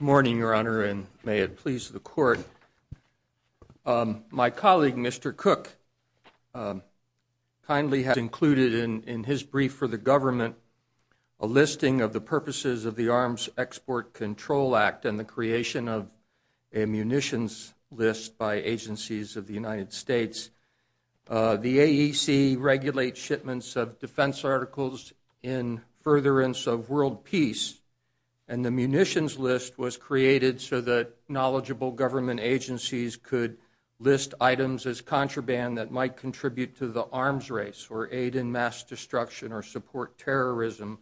Morning, Your Honor, and may it please the Court. My colleague, Mr. Cook, kindly has included in his brief for the government a listing of the purposes of the Arms Export Control Act and the creation of a munitions list by agencies of the United States. The AEC regulates shipments of defense articles in furtherance of world peace, and the munitions list was created so that knowledgeable government agencies could list items as contraband that might contribute to the arms race or aid in mass destruction or support terrorism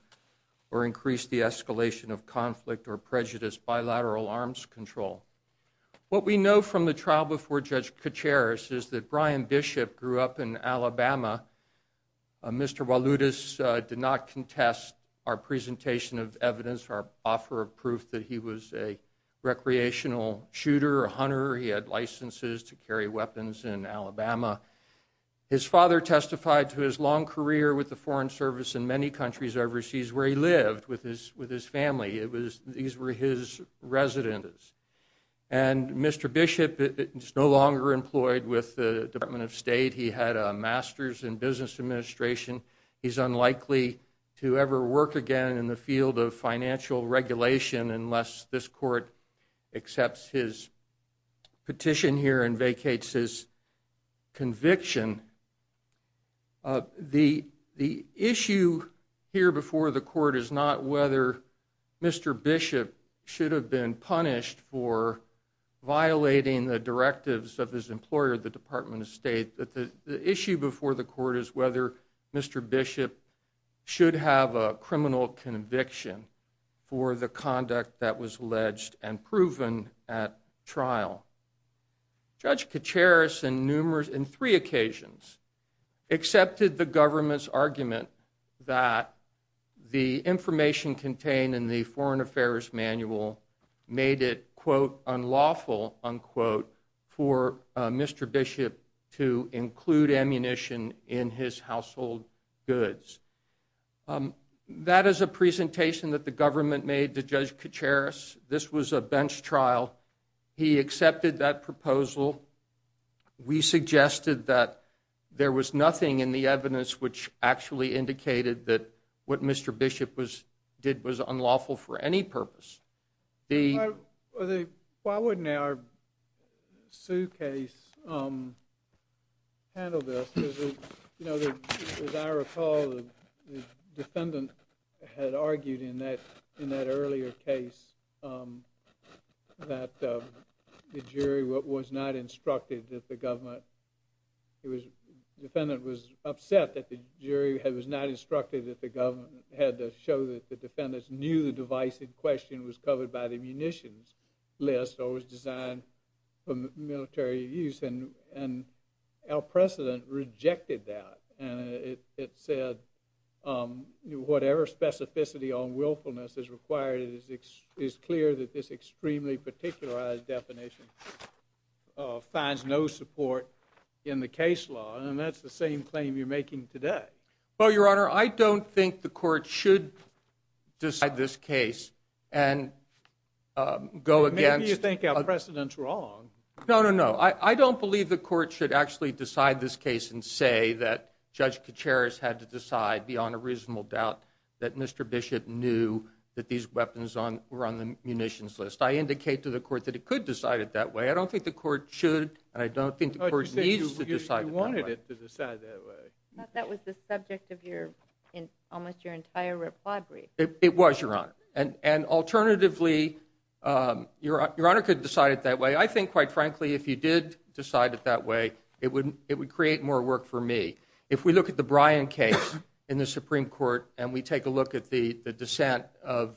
or increase the escalation of conflict or prejudice by lateral arms control. What we know from the trial before Judge Kacharis is that Brian Bishop grew up in Alabama. Mr. Walutis did not contest our presentation of evidence or offer of proof that he was a recreational shooter or hunter. He had licenses to carry weapons in Alabama. His father testified to his long career with the Foreign Service in many countries overseas where he lived with his family. These were his residences. Mr. Bishop is no longer employed with the Department of State. He had a master's in business administration. He's unlikely to ever work again in the field of financial regulation unless this Court accepts his petition here and vacates his residence. Judge Kacharis on three occasions accepted the government's argument that the information contained in the Foreign Affairs Manual made it, quote, unlawful, unquote, for Mr. Bishop to include ammunition in his household goods. That is a presentation that the government made to Judge Kacharis. This was a bench trial. He accepted that proposal. We suggested that there was nothing in the evidence which actually indicated that what Mr. Bishop did was unlawful for any purpose. Why wouldn't our suit case handle this? As I recall, the defendant had argued in that earlier case that the jury was not instructed that the government had to show that the defendants knew the divisive question was covered by the munitions list or was designed for military use. And our precedent rejected that. And it said whatever specificity on willfulness is required, it is clear that this extremely particularized definition finds no support in the case law. And that's the same claim you're making today. Well, Your Honor, I don't think the Court should decide this case and go against Maybe you think our precedent's wrong. No, no, no. I don't believe the Court should actually decide this case and say that Judge that these weapons were on the munitions list. I indicate to the Court that it could decide it that way. I don't think the Court should and I don't think the Court needs to decide it that way. You said you wanted it to decide it that way. That was the subject of almost your entire reply brief. It was, Your Honor. And alternatively, Your Honor could decide it that way. I think, quite frankly, if you did decide it that way, it would create more work for me. If we look at the Bryan case in the Supreme Court and we take a look at the dissent of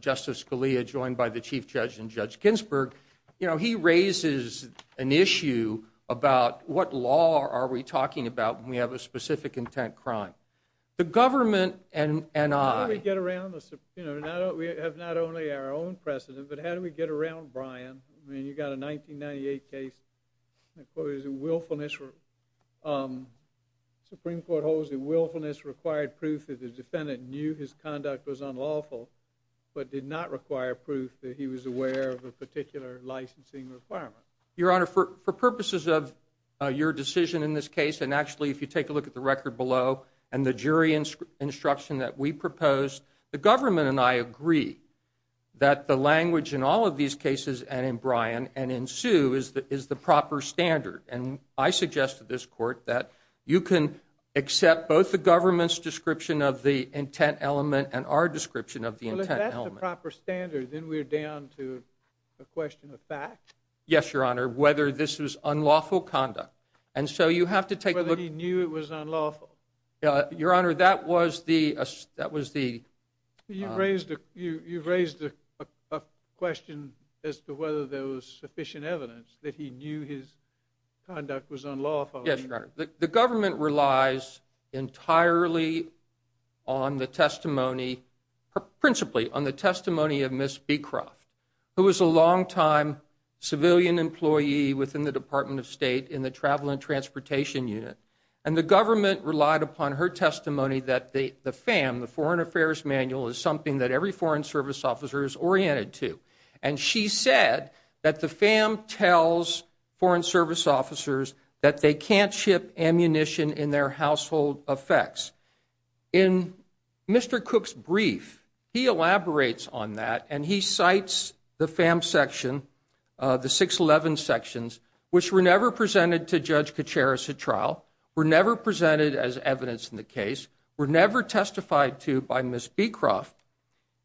Justice Scalia joined by the Chief Judge and Judge Ginsburg, he raises an issue about what law are we talking about when we have a specific intent crime. The government and I How do we get around this? We have not only our own precedent, but how do we get around You've got a 1998 case. The Supreme Court holds that willfulness required proof that the defendant knew his conduct was unlawful, but did not require proof that he was aware of a particular licensing requirement. Your Honor, for purposes of your decision in this case, and actually if you take a look at the record below and the jury instruction that we proposed, the government and I agree that the language in all of these cases, and in Bryan and in Sue, is the proper standard. I suggest to this Court that you can accept both the government's description of the intent element and our description of the intent element. Well, if that's the proper standard, then we're down to a question of fact? Yes, Your Honor, whether this was unlawful conduct. And so you have to take a look Whether he knew it was unlawful. Your Honor, that was the You've raised a question as to whether there was sufficient evidence that he knew his conduct was unlawful. Yes, Your Honor. The government relies entirely on the testimony, principally on the testimony of Ms. Beecroft, who was a longtime civilian employee within the Department of State in the Travel and Transportation Unit. And the government relied upon her testimony that the FAM, the Foreign Affairs Manual, is something that every Foreign Service officer is oriented to. And she said that the FAM tells Foreign Service officers that they can't ship ammunition in their household effects. In Mr. Cook's brief, he elaborates on that and he cites the FAM section, the 611 sections, which were never presented to Judge Kacharis at trial, were never presented as evidence in the case, were never testified to by Ms. Beecroft.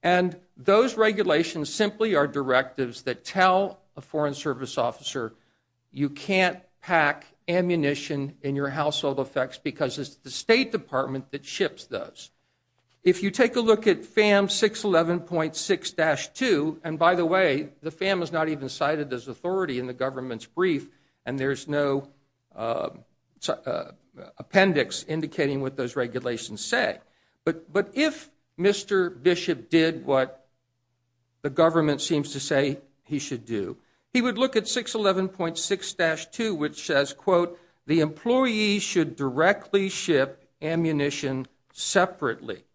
And those regulations simply are directives that tell a Foreign Service officer you can't pack ammunition in your household effects because it's the State Department that ships those. If you take a look at FAM 611.6-2, and by the way, the FAM is not even cited as authority in the government's brief, and there's no appendix indicating what those regulations say. But if Mr. Bishop did what the government seems to say he should do, he would look at 611.6-2, which says, quote, the employee should directly ship ammunition separately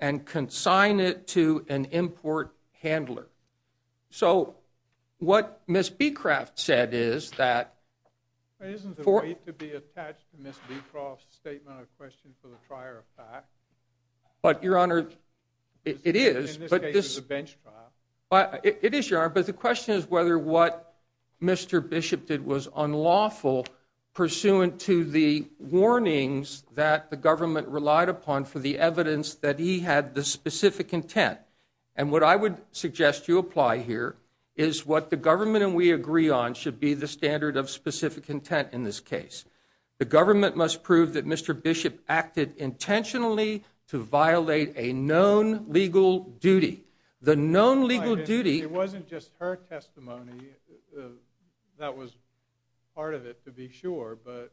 and consign it to an import handler. So, what Ms. Beecroft said is that- Isn't the weight to be attached to Ms. Beecroft's statement a question for the trier of fact? But Your Honor, it is. In this case, it's a bench trial. It is, Your Honor, but the question is whether what Mr. Bishop did was unlawful pursuant to the warnings that the government relied upon for the evidence that he had the specific intent. And what I would suggest you apply here is what the government and we agree on should be the standard of specific intent in this case. The government must prove that Mr. Bishop acted intentionally to violate a known legal duty. The known legal duty- It wasn't just her testimony. That was part of it, to be sure, but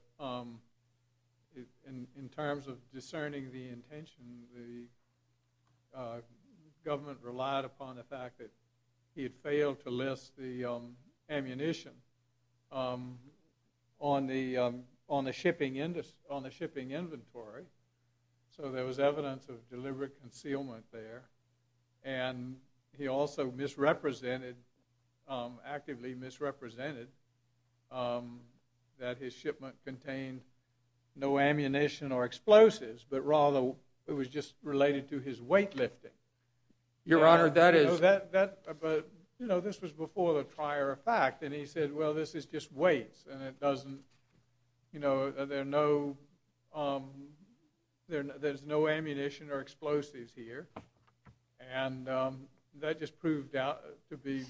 in terms of discerning the intention, the government relied upon the fact that he had failed to list the ammunition on the shipping inventory, so there was evidence of deliberate concealment there. And he also misrepresented, actively misrepresented, that his shipment contained no ammunition or explosives, but rather it was just related to his weight lifting. Your Honor, that is- But, you know, this was before the trier of fact, and he said, well, this is just weights, and it doesn't, you know, there's no ammunition or explosives here, and that just proved to be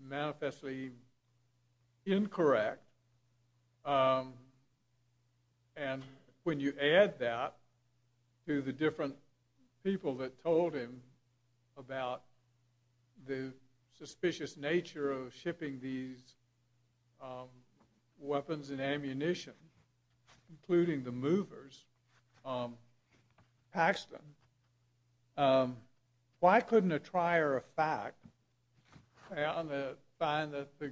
manifestly incorrect. And when you add that to the different people that told him about the suspicious nature of shipping these weapons and ammunition, including the movers, Paxton, why couldn't a trier of fact, on the find that the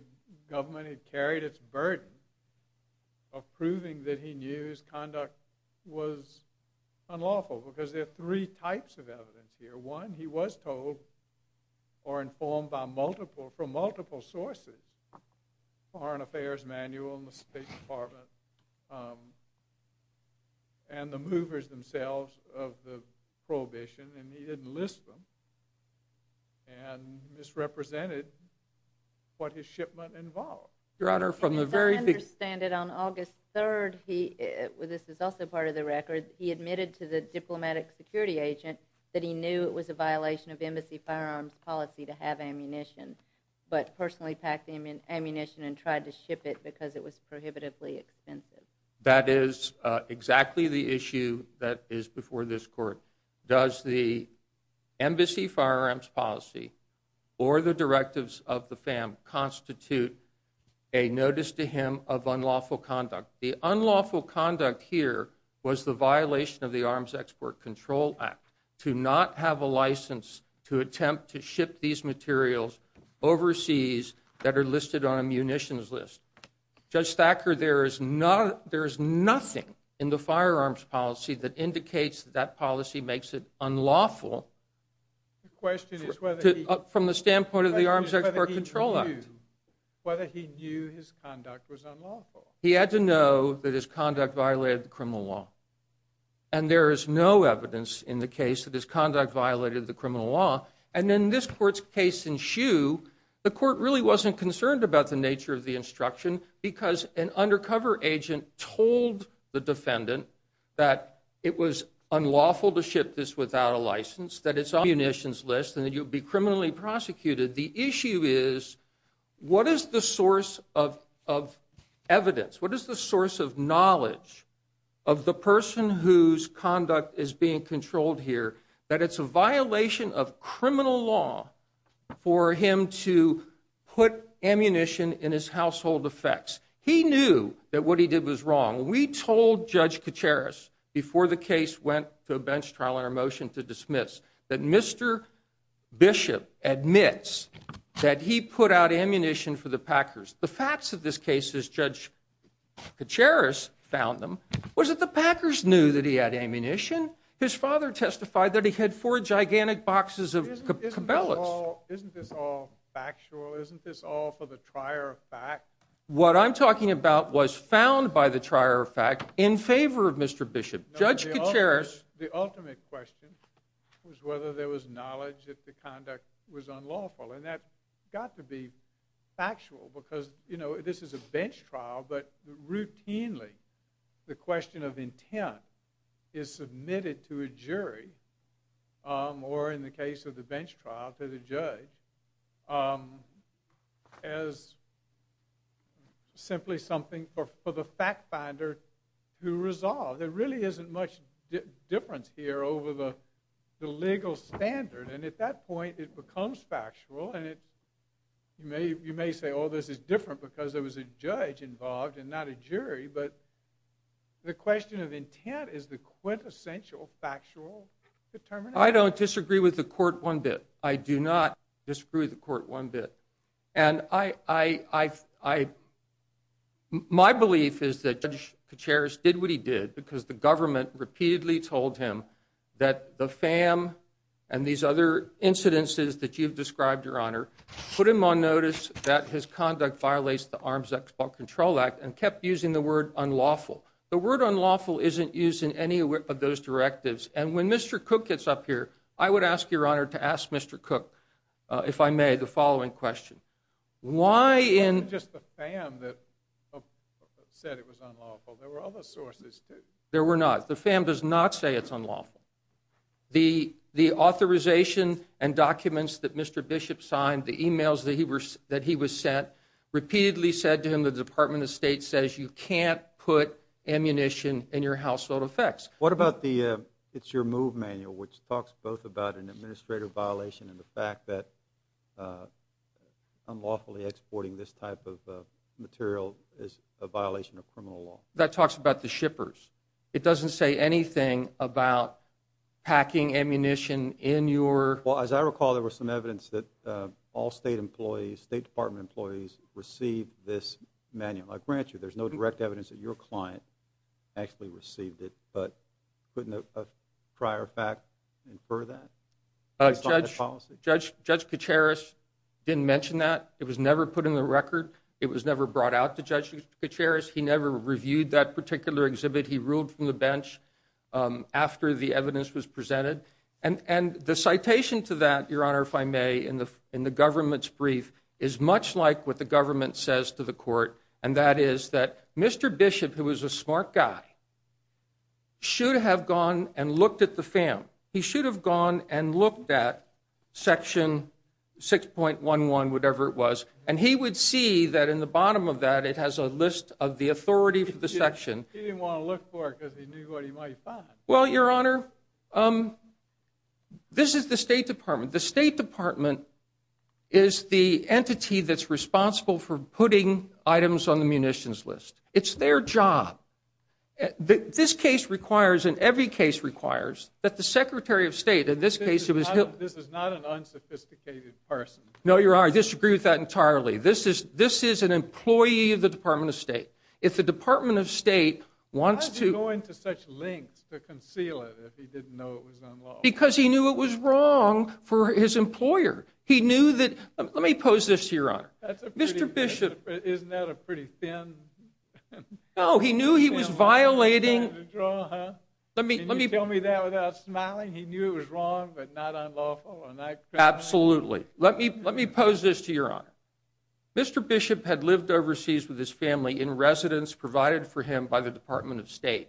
government had carried its burden of proving that he knew his conduct was unlawful? Because there are three types of evidence here. One, he was told, or informed by multiple, from multiple sources, Foreign Affairs Manual and the State Department, and the movers themselves of the prohibition, and he didn't list them, and misrepresented what his shipment involved. Your Honor, from the very- As I understand it, on August 3rd, he, this is also part of the record, he admitted to the diplomatic security agent that he knew it was a violation of Embassy Firearms Policy to have ammunition, but personally packed the ammunition and tried to ship it because it was prohibitively expensive. That is exactly the issue that is before this Court. Does the Embassy Firearms Policy, or the directives of the FAM, constitute a notice to him of unlawful conduct? The unlawful conduct here was the violation of the Arms Export Control Act to not have a license to attempt to ship these materials overseas that are listed on a munitions list. Judge Thacker, there is nothing in the Firearms Policy that indicates that that policy makes it unlawful from the standpoint of the Arms Export Control Act. Whether he knew his conduct was unlawful? He had to know that his conduct violated the criminal law. And there is no evidence in the case that his conduct violated the criminal law. And in this Court's case in Shoe, the Court really wasn't concerned about the nature of the instruction because an undercover agent told the defendant that it was unlawful to ship this without a license, that it's on a munitions list, and that you would be criminally prosecuted. The issue is, what is the source of evidence? What is the source of knowledge of the person whose conduct is being controlled here that it's a violation of criminal law for him to put ammunition in his household effects? He knew that what he did was wrong. We told Judge Kacharis before the case went to a bench trial and our motion to dismiss that Mr. Bishop admits that he put out ammunition for the Packers. The facts of this case, as Judge Kacharis found them, was that the Packers knew that he had ammunition. His father testified that he had four gigantic boxes of Cabela's. Isn't this all factual? Isn't this all for the trier of fact? What I'm talking about was found by the trier of fact in favor of Mr. Bishop. Judge Kacharis... No, the ultimate question was whether there was knowledge that the conduct was unlawful. That got to be factual because this is a bench trial, but routinely the question of intent is submitted to a jury or, in the case of the bench trial, to the judge as simply something for the fact finder to resolve. There really isn't much difference here over the legal standard, and at that point it becomes factual and you may say, oh, this is different because there was a judge involved and not a jury, but the question of intent is the quintessential factual determination. I don't disagree with the court one bit. I do not disagree with the court one bit. And my belief is that Judge Kacharis did what he did because the government repeatedly told him that the FAM and these other incidences that you've described, Your Honor, put him on notice that his conduct violates the Arms Export Control Act and kept using the word unlawful. The word unlawful isn't used in any of those directives. And when Mr. Cook gets up here, I would ask Your Honor to ask Mr. Cook, if I may, the Why in It wasn't just the FAM that said it was unlawful. There were other sources, too. There were not. The FAM does not say it's unlawful. The authorization and documents that Mr. Bishop signed, the emails that he was sent, repeatedly said to him the Department of State says you can't put ammunition in your household effects. What about the It's Your Move manual, which talks both about an administrative violation and the fact that unlawfully exporting this type of material is a violation of criminal law. That talks about the shippers. It doesn't say anything about packing ammunition in your Well, as I recall, there was some evidence that all State employees, State Department employees received this manual. I grant you, there's no direct evidence that your client actually received it. But couldn't a prior fact infer that? Judge Kacharis didn't mention that. It was never put in the record. It was never brought out to Judge Kacharis. He never reviewed that particular exhibit. He ruled from the bench after the evidence was presented. And the citation to that, Your Honor, if I may, in the government's brief is much like what the government says to the court. And that is that Mr. Bishop, who was a smart guy, should have gone and looked at the FAM. He should have gone and looked at Section 6.11, whatever it was. And he would see that in the bottom of that, it has a list of the authority for the section. He didn't want to look for it because he knew what he might find. Well, Your Honor, this is the State Department. The State Department is the entity that's responsible for putting items on the munitions list. It's their job. This case requires, and every case requires, that the Secretary of State, in this case, who is— This is not an unsophisticated person. No, Your Honor, I disagree with that entirely. This is an employee of the Department of State. If the Department of State wants to— Why is he going to such lengths to conceal it if he didn't know it was unlawful? Because he knew it was wrong for his employer. He knew that—let me pose this to Your Honor. Mr. Bishop— Isn't that a pretty thin— No, he knew he was violating— Can you tell me that without smiling? He knew it was wrong, but not unlawful? Absolutely. Let me pose this to Your Honor. Mr. Bishop had lived overseas with his family in residence provided for him by the Department of State.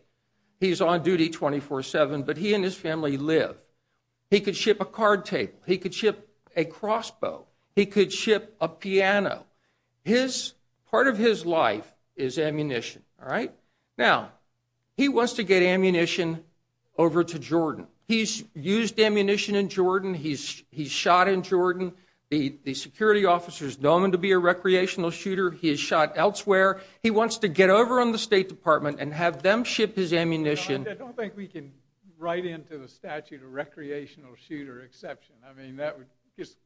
He's on duty 24-7, but he and his family live. He could ship a card table. He could ship a crossbow. He could ship a piano. Part of his life is ammunition, all right? Now, he wants to get ammunition over to Jordan. He's used ammunition in Jordan. He's shot in Jordan. The security officer is known to be a recreational shooter. He is shot elsewhere. He wants to get over on the State Department and have them ship his ammunition. I don't think we can write into the statute a recreational shooter exception. I mean, that would just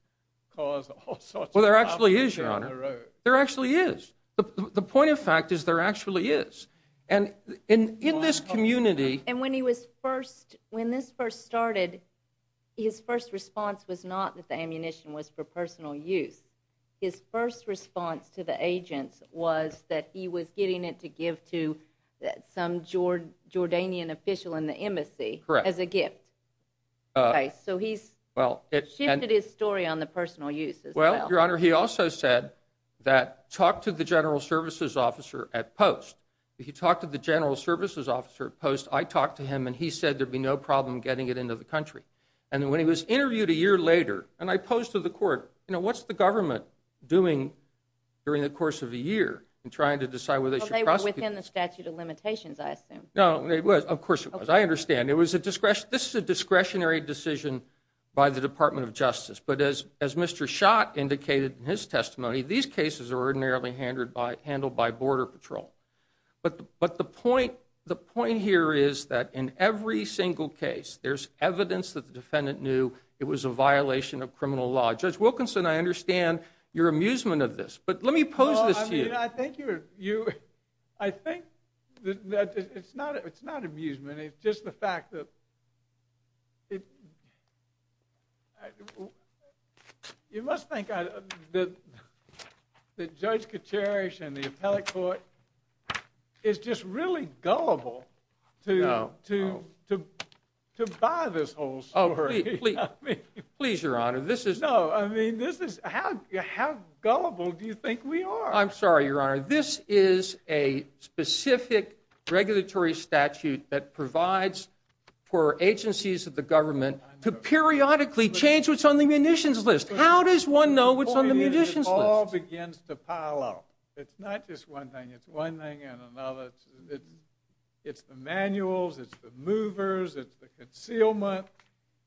cause all sorts of problems. There actually is, Your Honor. There actually is. The point of fact is there actually is. And in this community— And when he was first—when this first started, his first response was not that the ammunition was for personal use. His first response to the agents was that he was getting it to give to some Jordanian official in the embassy as a gift. So he's shifted his story on the personal use as well. Well, Your Honor, he also said that talk to the general services officer at post. If you talk to the general services officer at post, I talk to him, and he said there would be no problem getting it into the country. And when he was interviewed a year later, and I posed to the court, you know, what's the government doing during the course of a year in trying to decide whether they should prosecute— Well, they were within the statute of limitations, I assume. No, of course it was. I understand. This is a discretionary decision by the Department of Justice. But as Mr. Schott indicated in his testimony, these cases are ordinarily handled by Border Patrol. But the point here is that in every single case, there's evidence that the defendant knew it was a violation of criminal law. Judge Wilkinson, I understand your amusement of this, but let me pose this to you. I think that it's not amusement, it's just the fact that—you must think that Judge Katerish and the appellate court is just really gullible to buy this whole story. Oh, please, Your Honor, this is— No, I mean, this is—how gullible do you think we are? I'm sorry, Your Honor, this is a specific regulatory statute that provides for agencies of the government to periodically change what's on the munitions list. How does one know what's on the munitions list? The point is it all begins to pile up. It's not just one thing, it's one thing and another. It's the manuals, it's the movers, it's the concealment,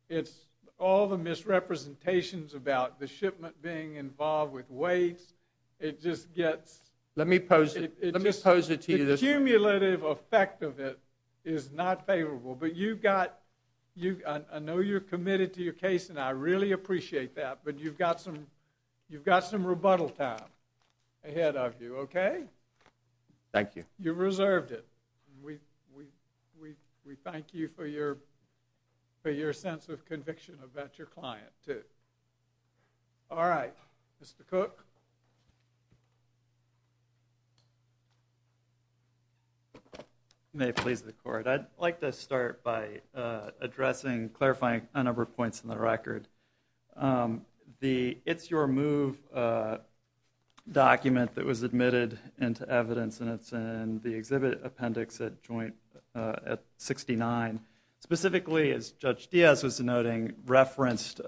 it's all the misrepresentations about the shipment being involved with waste. It just gets— Let me pose it to you this way. The cumulative effect of it is not favorable, but you've got—I know you're committed to your case, and I really appreciate that, but you've got some rebuttal time ahead of you, okay? Thank you. You've reserved it. We thank you for your sense of conviction about your client, too. All right. Mr. Cook? May it please the Court. I'd like to start by addressing, clarifying a number of points in the record. The It's Your Move document that was admitted into evidence, and it's in the exhibit appendix at 69, specifically, as Judge Diaz was noting, referenced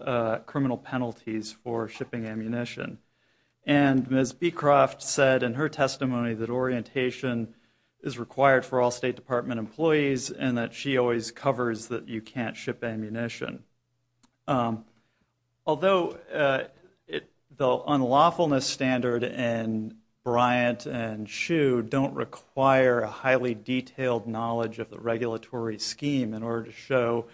criminal penalties for shipping ammunition. And Ms. Beecroft said in her testimony that orientation is required for all State Department employees and that she always covers that you can't ship ammunition. Although the unlawfulness standard in Bryant and Shue don't require a highly detailed knowledge of the regulatory scheme in order to show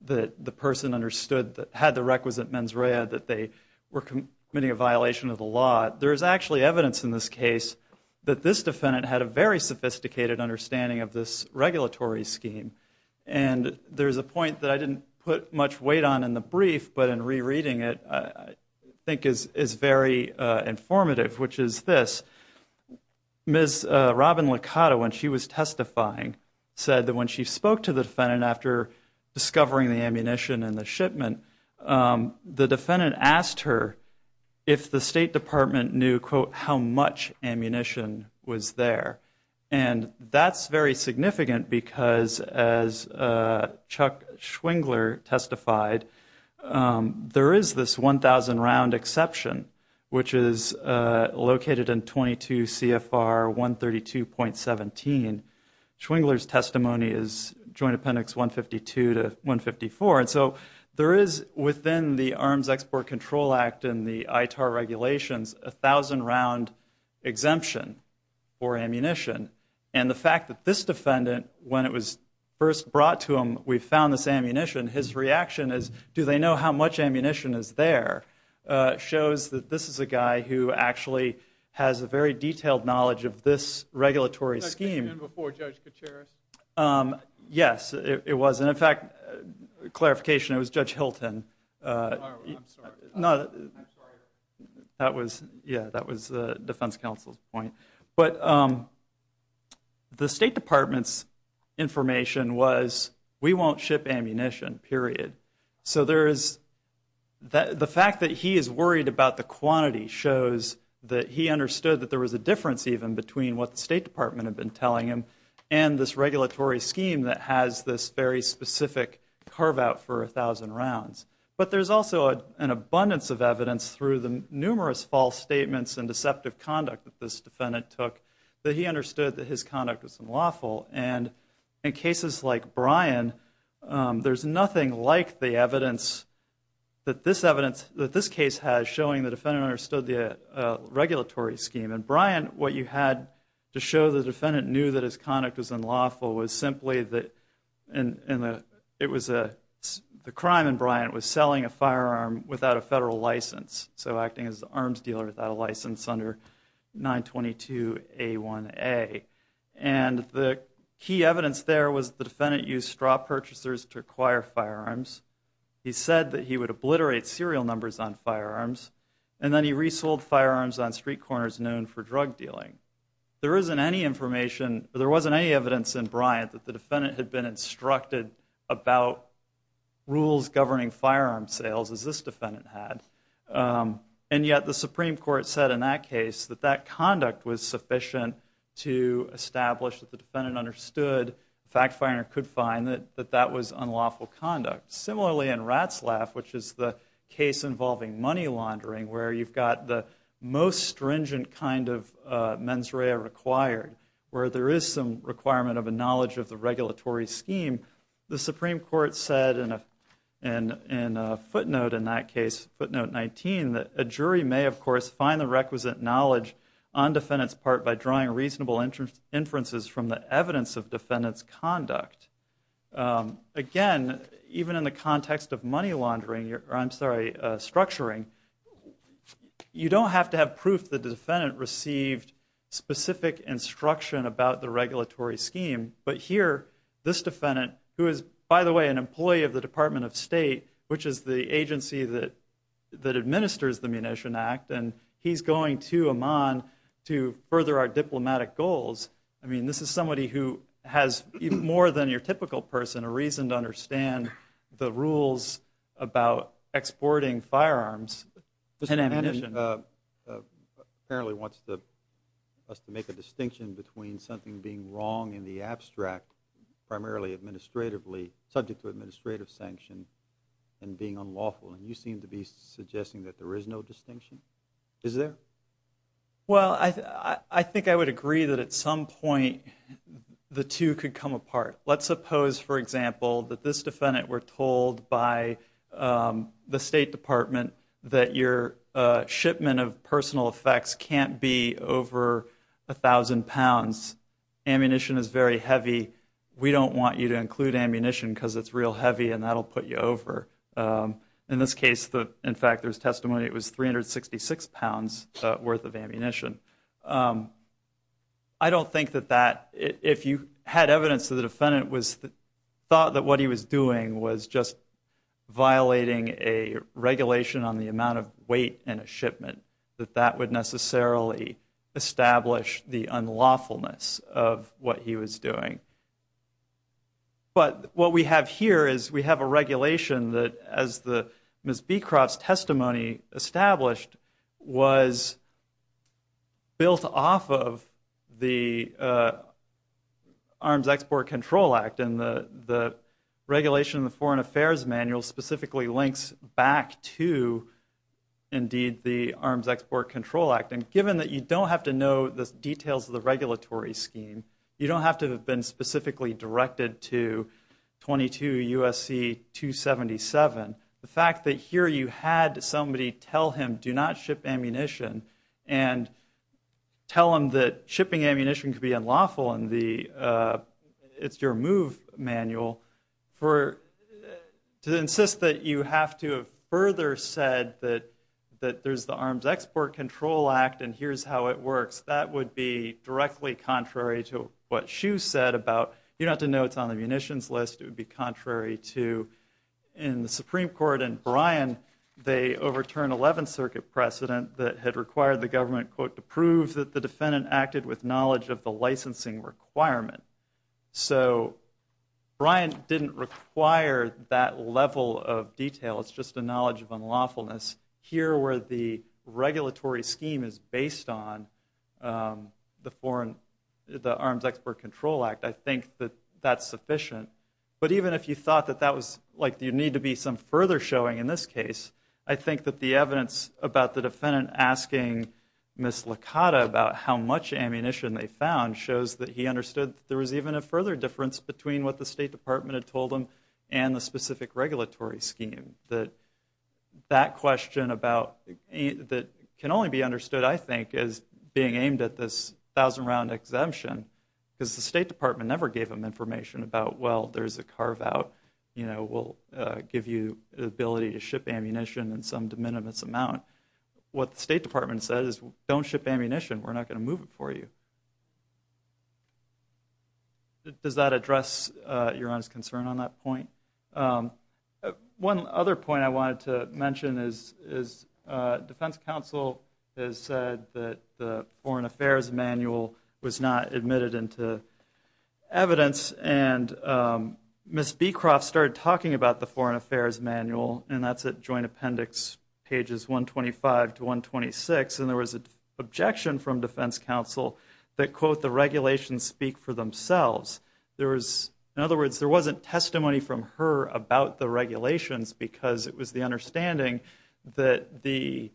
that the person understood—had the requisite mens rea that they were committing a violation of the law, there is actually evidence in this case that this defendant had a very sophisticated understanding of this regulatory scheme. And there's a point that I didn't put much weight on in the brief, but in rereading it, I think is very informative, which is this. Ms. Robin Licata, when she was testifying, said that when she spoke to the defendant after discovering the ammunition in the shipment, the defendant asked her if the State Department knew, quote, how much ammunition was there. And that's very significant because, as Chuck Schwingler testified, there is this 1,000-round exception, which is located in 22 CFR 132.17. Schwingler's testimony is Joint Appendix 152 to 154. And so there is, within the Arms Export Control Act and the ITAR regulations, a 1,000-round exemption for ammunition. And the fact that this defendant, when it was first brought to him, we found this ammunition, his reaction is, do they know how much ammunition is there? It shows that this is a guy who actually has a very detailed knowledge of this regulatory scheme. And before Judge Kacheres? Yes, it was. And in fact, clarification, it was Judge Hilton. Oh, I'm sorry. I'm sorry. Yeah, that was the Defense Counsel's point. But the State Department's information was, we won't ship ammunition, period. So the fact that he is worried about the quantity shows that he understood that there was a difference even between what the State Department had been telling him and this regulatory scheme that has this very specific carve-out for 1,000 rounds. But there's also an abundance of evidence through the numerous false statements and deceptive conduct that this defendant took that he understood that his conduct was unlawful. And in cases like Brian, there's nothing like the evidence that this evidence, that this case has showing the defendant understood the regulatory scheme. In Brian, what you had to show the defendant knew that his conduct was unlawful was simply that the crime in Brian was selling a firearm without a federal license. So acting as an arms dealer without a license under 922A1A. And the key evidence there was the defendant used straw purchasers to acquire firearms. He said that he would obliterate serial numbers on firearms. And then he resold firearms on street corners known for drug dealing. There isn't any information, there wasn't any evidence in Brian that the defendant had been instructed about rules governing firearm sales as this defendant had. And yet the Supreme Court said in that case that that conduct was sufficient to establish that the defendant understood, the fact finder could find that that was unlawful conduct. Similarly, in Ratzlaff, which is the case involving money laundering where you've got the most stringent kind of mens rea required, where there is some requirement of a knowledge of the regulatory scheme, the Supreme Court said in a footnote in that case, footnote 19, that a jury may, of course, find the requisite knowledge on defendant's part by drawing reasonable inferences from the evidence of defendant's conduct. Again, even in the context of money laundering, or I'm sorry, structuring, you don't have to have proof that the defendant received specific instruction about the regulatory scheme, but here this defendant, who is, by the way, an employee of the Department of State, which is the agency that administers the Munition Act, and he's going to Amman to further our diplomatic goals. I mean, this is somebody who has, more than your typical person, a reason to understand the rules about exporting firearms and ammunition. Mr. Manning apparently wants us to make a distinction between something being wrong in the abstract, primarily administratively, subject to administrative sanction, and being unlawful, and you seem to be suggesting that there is no distinction. Is there? Well, I think I would agree that at some point the two could come apart. Let's suppose, for example, that this defendant were told by the State Department that your shipment of personal effects can't be over 1,000 pounds. Ammunition is very heavy. We don't want you to include ammunition because it's real heavy and that will put you over. In this case, in fact, there's testimony it was 366 pounds worth of ammunition. I don't think that that, if you had evidence that the defendant thought that what he was doing was just violating a regulation on the amount of weight in a shipment, that that would necessarily establish the unlawfulness of what he was doing. But what we have here is we have a regulation that, as Ms. Beecroft's testimony established, was built off of the Arms Export Control Act, and the regulation in the Foreign Affairs Manual specifically links back to, indeed, the Arms Export Control Act. And given that you don't have to know the details of the regulatory scheme, you don't have to have been specifically directed to 22 U.S.C. 277, the fact that here you had somebody tell him, do not ship ammunition, and tell him that shipping ammunition could be unlawful in the It's Your Move Manual, to insist that you have to have further said that there's the Arms Export Control Act and here's how it works, that would be directly contrary to what Hsu said about, you don't have to know it's on the munitions list. It would be contrary to, in the Supreme Court and Bryan, they overturned 11th Circuit precedent that had required the government, quote, to prove that the defendant acted with knowledge of the licensing requirement. So, Bryan didn't require that level of detail. It's just a knowledge of unlawfulness. Here, where the regulatory scheme is based on the Foreign, the Arms Export Control Act, I think that that's sufficient. But even if you thought that that was, like, you need to be some further showing in this case, I think that the evidence about the defendant asking Ms. Licata about how much ammunition they found shows that he understood that there was even a further difference between what the State Department had told him and the specific regulatory scheme. That question about, that can only be understood, I think, as being aimed at this thousand-round exemption, because the State Department never gave him information about, well, there's a carve-out, you know, we'll give you the ability to ship ammunition in some de minimis amount. What the State Department said is, don't ship ammunition, we're not going to move it for you. Does that address your Honor's concern on that point? One other point I wanted to mention is Defense Counsel has said that the Foreign Affairs Manual was not admitted into evidence, and Ms. Beecroft started talking about the Foreign Affairs Manual, and that's at Joint Appendix pages 125 to 126, and there was an objection from Defense Counsel that, quote, the regulations speak for themselves. In other words, there wasn't testimony from her about the regulations, because it was the understanding that the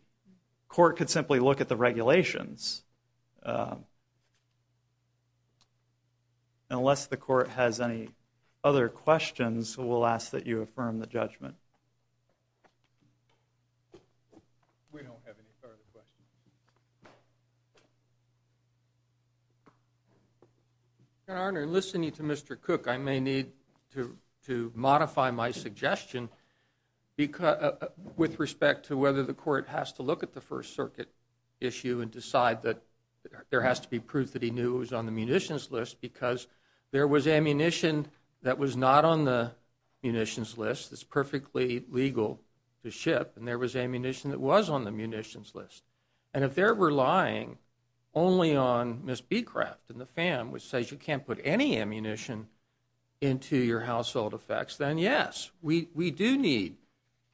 Court could simply look at the regulations. Unless the Court has any other questions, we'll ask that you affirm the judgment. We don't have any further questions. Your Honor, in listening to Mr. Cook, I may need to modify my suggestion with respect to whether the Court has to look at the First Circuit issue and decide that there has to be proof that he knew it was on the munitions list, because there was ammunition that was not on the munitions list that's perfectly legal to ship, and there was ammunition that was on the munitions list. And if they're relying only on Ms. Beecroft and the FAM, which says you can't put any ammunition into your household effects, then yes, we do need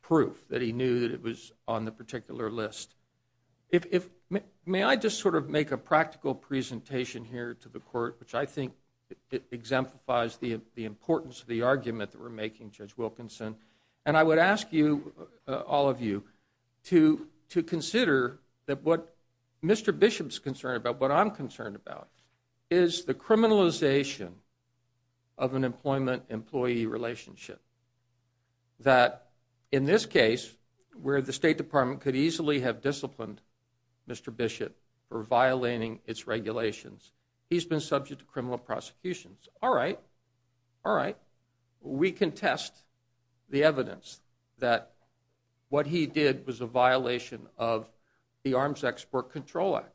proof that he knew that it was on the particular list. May I just sort of make a practical presentation here to the Court, which I think exemplifies the importance of the argument that we're making, Judge Wilkinson, and I would ask you, all of you, to consider that what Mr. Bishop's concerned about, what I'm concerned about, is the criminalization of an employment-employee relationship. That in this case, where the State Department could easily have disciplined Mr. Bishop for saying, all right, we can test the evidence that what he did was a violation of the Arms Export Control Act.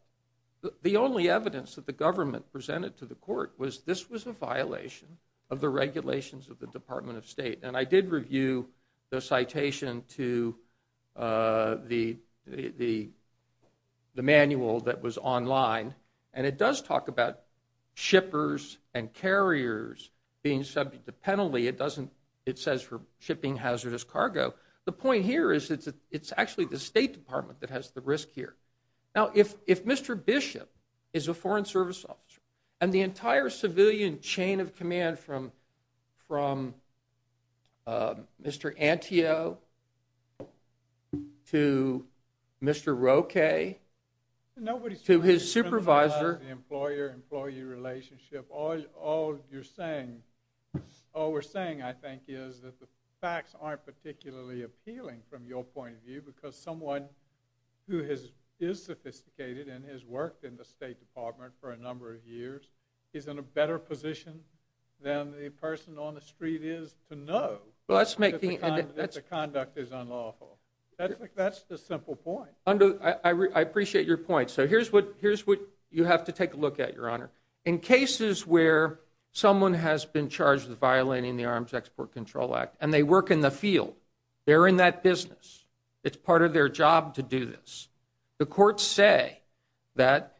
The only evidence that the government presented to the Court was this was a violation of the regulations of the Department of State. And I did review the citation to the manual that was online, and it does talk about shippers and carriers being subject to penalty. It doesn't, it says for shipping hazardous cargo. The point here is that it's actually the State Department that has the risk here. Now, if Mr. Bishop is a Foreign Service officer, and the entire civilian chain of command from Mr. Anteo to Mr. Roque to his supervisor. Nobody's trying to criminalize the employer-employee relationship. All you're saying, all we're saying, I think, is that the facts aren't particularly appealing from your point of view, because someone who is sophisticated and has worked in the State Department for a number of years is in a better position than the person on the street is to know that the conduct is unlawful. That's the simple point. I appreciate your point. So here's what you have to take a look at, Your Honor. In cases where someone has been charged with violating the Arms Export Control Act, and they work in the field, they're in that business, it's part of their job to do this. The courts say that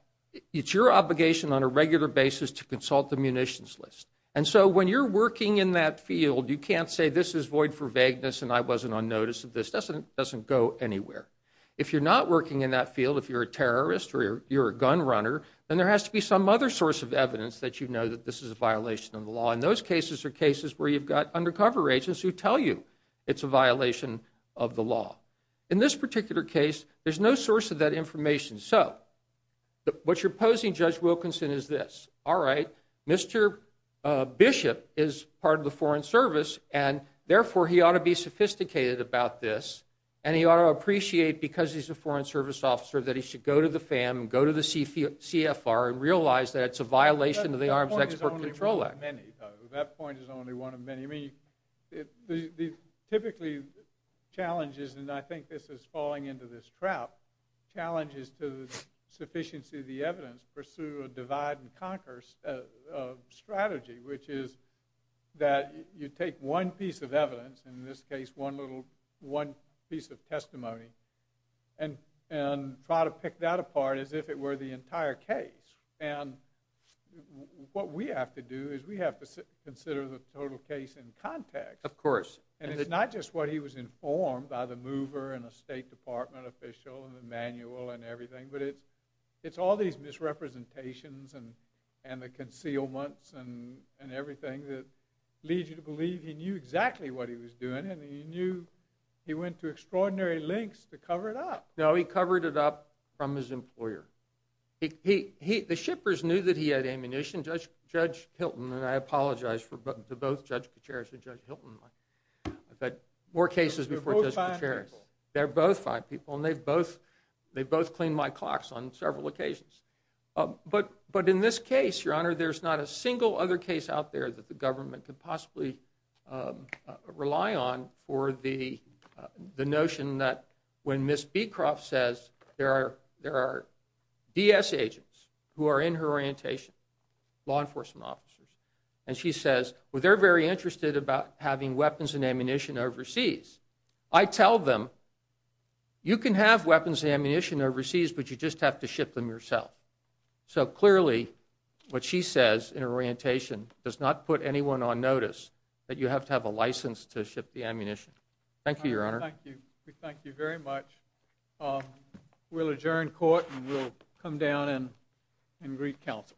it's your obligation on a regular basis to consult the munitions list. And so when you're working in that field, you can't say, this is void for vagueness, and I wasn't on notice of this. It doesn't go anywhere. If you're not working in that field, if you're a terrorist or you're a gun runner, then there has to be some other source of evidence that you know that this is a violation of the law. And those cases are cases where you've got undercover agents who tell you it's a violation of the law. In this particular case, there's no source of that information. So what you're posing, Judge Wilkinson, is this. All right, Mr. Bishop is part of the Foreign Service, and therefore, he ought to be sophisticated about this, and he ought to appreciate, because he's a Foreign Service officer, that he should go to the FAM, go to the CFR, and realize that it's a violation of the Arms Export Control Act. That point is only one of many. Typically, challenges, and I think this is falling into this trap, challenges to the sufficiency of the evidence pursue a divide and conquer strategy, which is that you take one piece of evidence, in this case, one piece of testimony, and try to pick that apart as if it were the entire case. And what we have to do is we have to consider the total case in context. Of course. And it's not just what he was informed by the mover and a State Department official and the manual and everything, but it's all these misrepresentations and the concealments and everything that leads you to believe he knew exactly what he was doing, and he knew he went to extraordinary lengths to cover it up. No, he covered it up from his employer. The shippers knew that he had ammunition. Judge Hilton, and I apologize to both Judge Kacharis and Judge Hilton, but more cases before Judge Kacharis. They're both five people. They're both five people, and they've both cleaned my clocks on several occasions. But in this case, Your Honor, there's not a single other case out there that the government could possibly rely on for the notion that when Ms. Beecroft says there are DS agents who are in her orientation, law enforcement officers, and she says, well, they're very interested about having weapons and ammunition overseas. I tell them, you can have weapons and ammunition overseas, but you just have to ship them yourself. So clearly, what she says in her orientation does not put anyone on notice that you have to have a license to ship the ammunition. Thank you, Your Honor. Thank you. Thank you very much. We'll adjourn court, and we'll come down and greet counsel.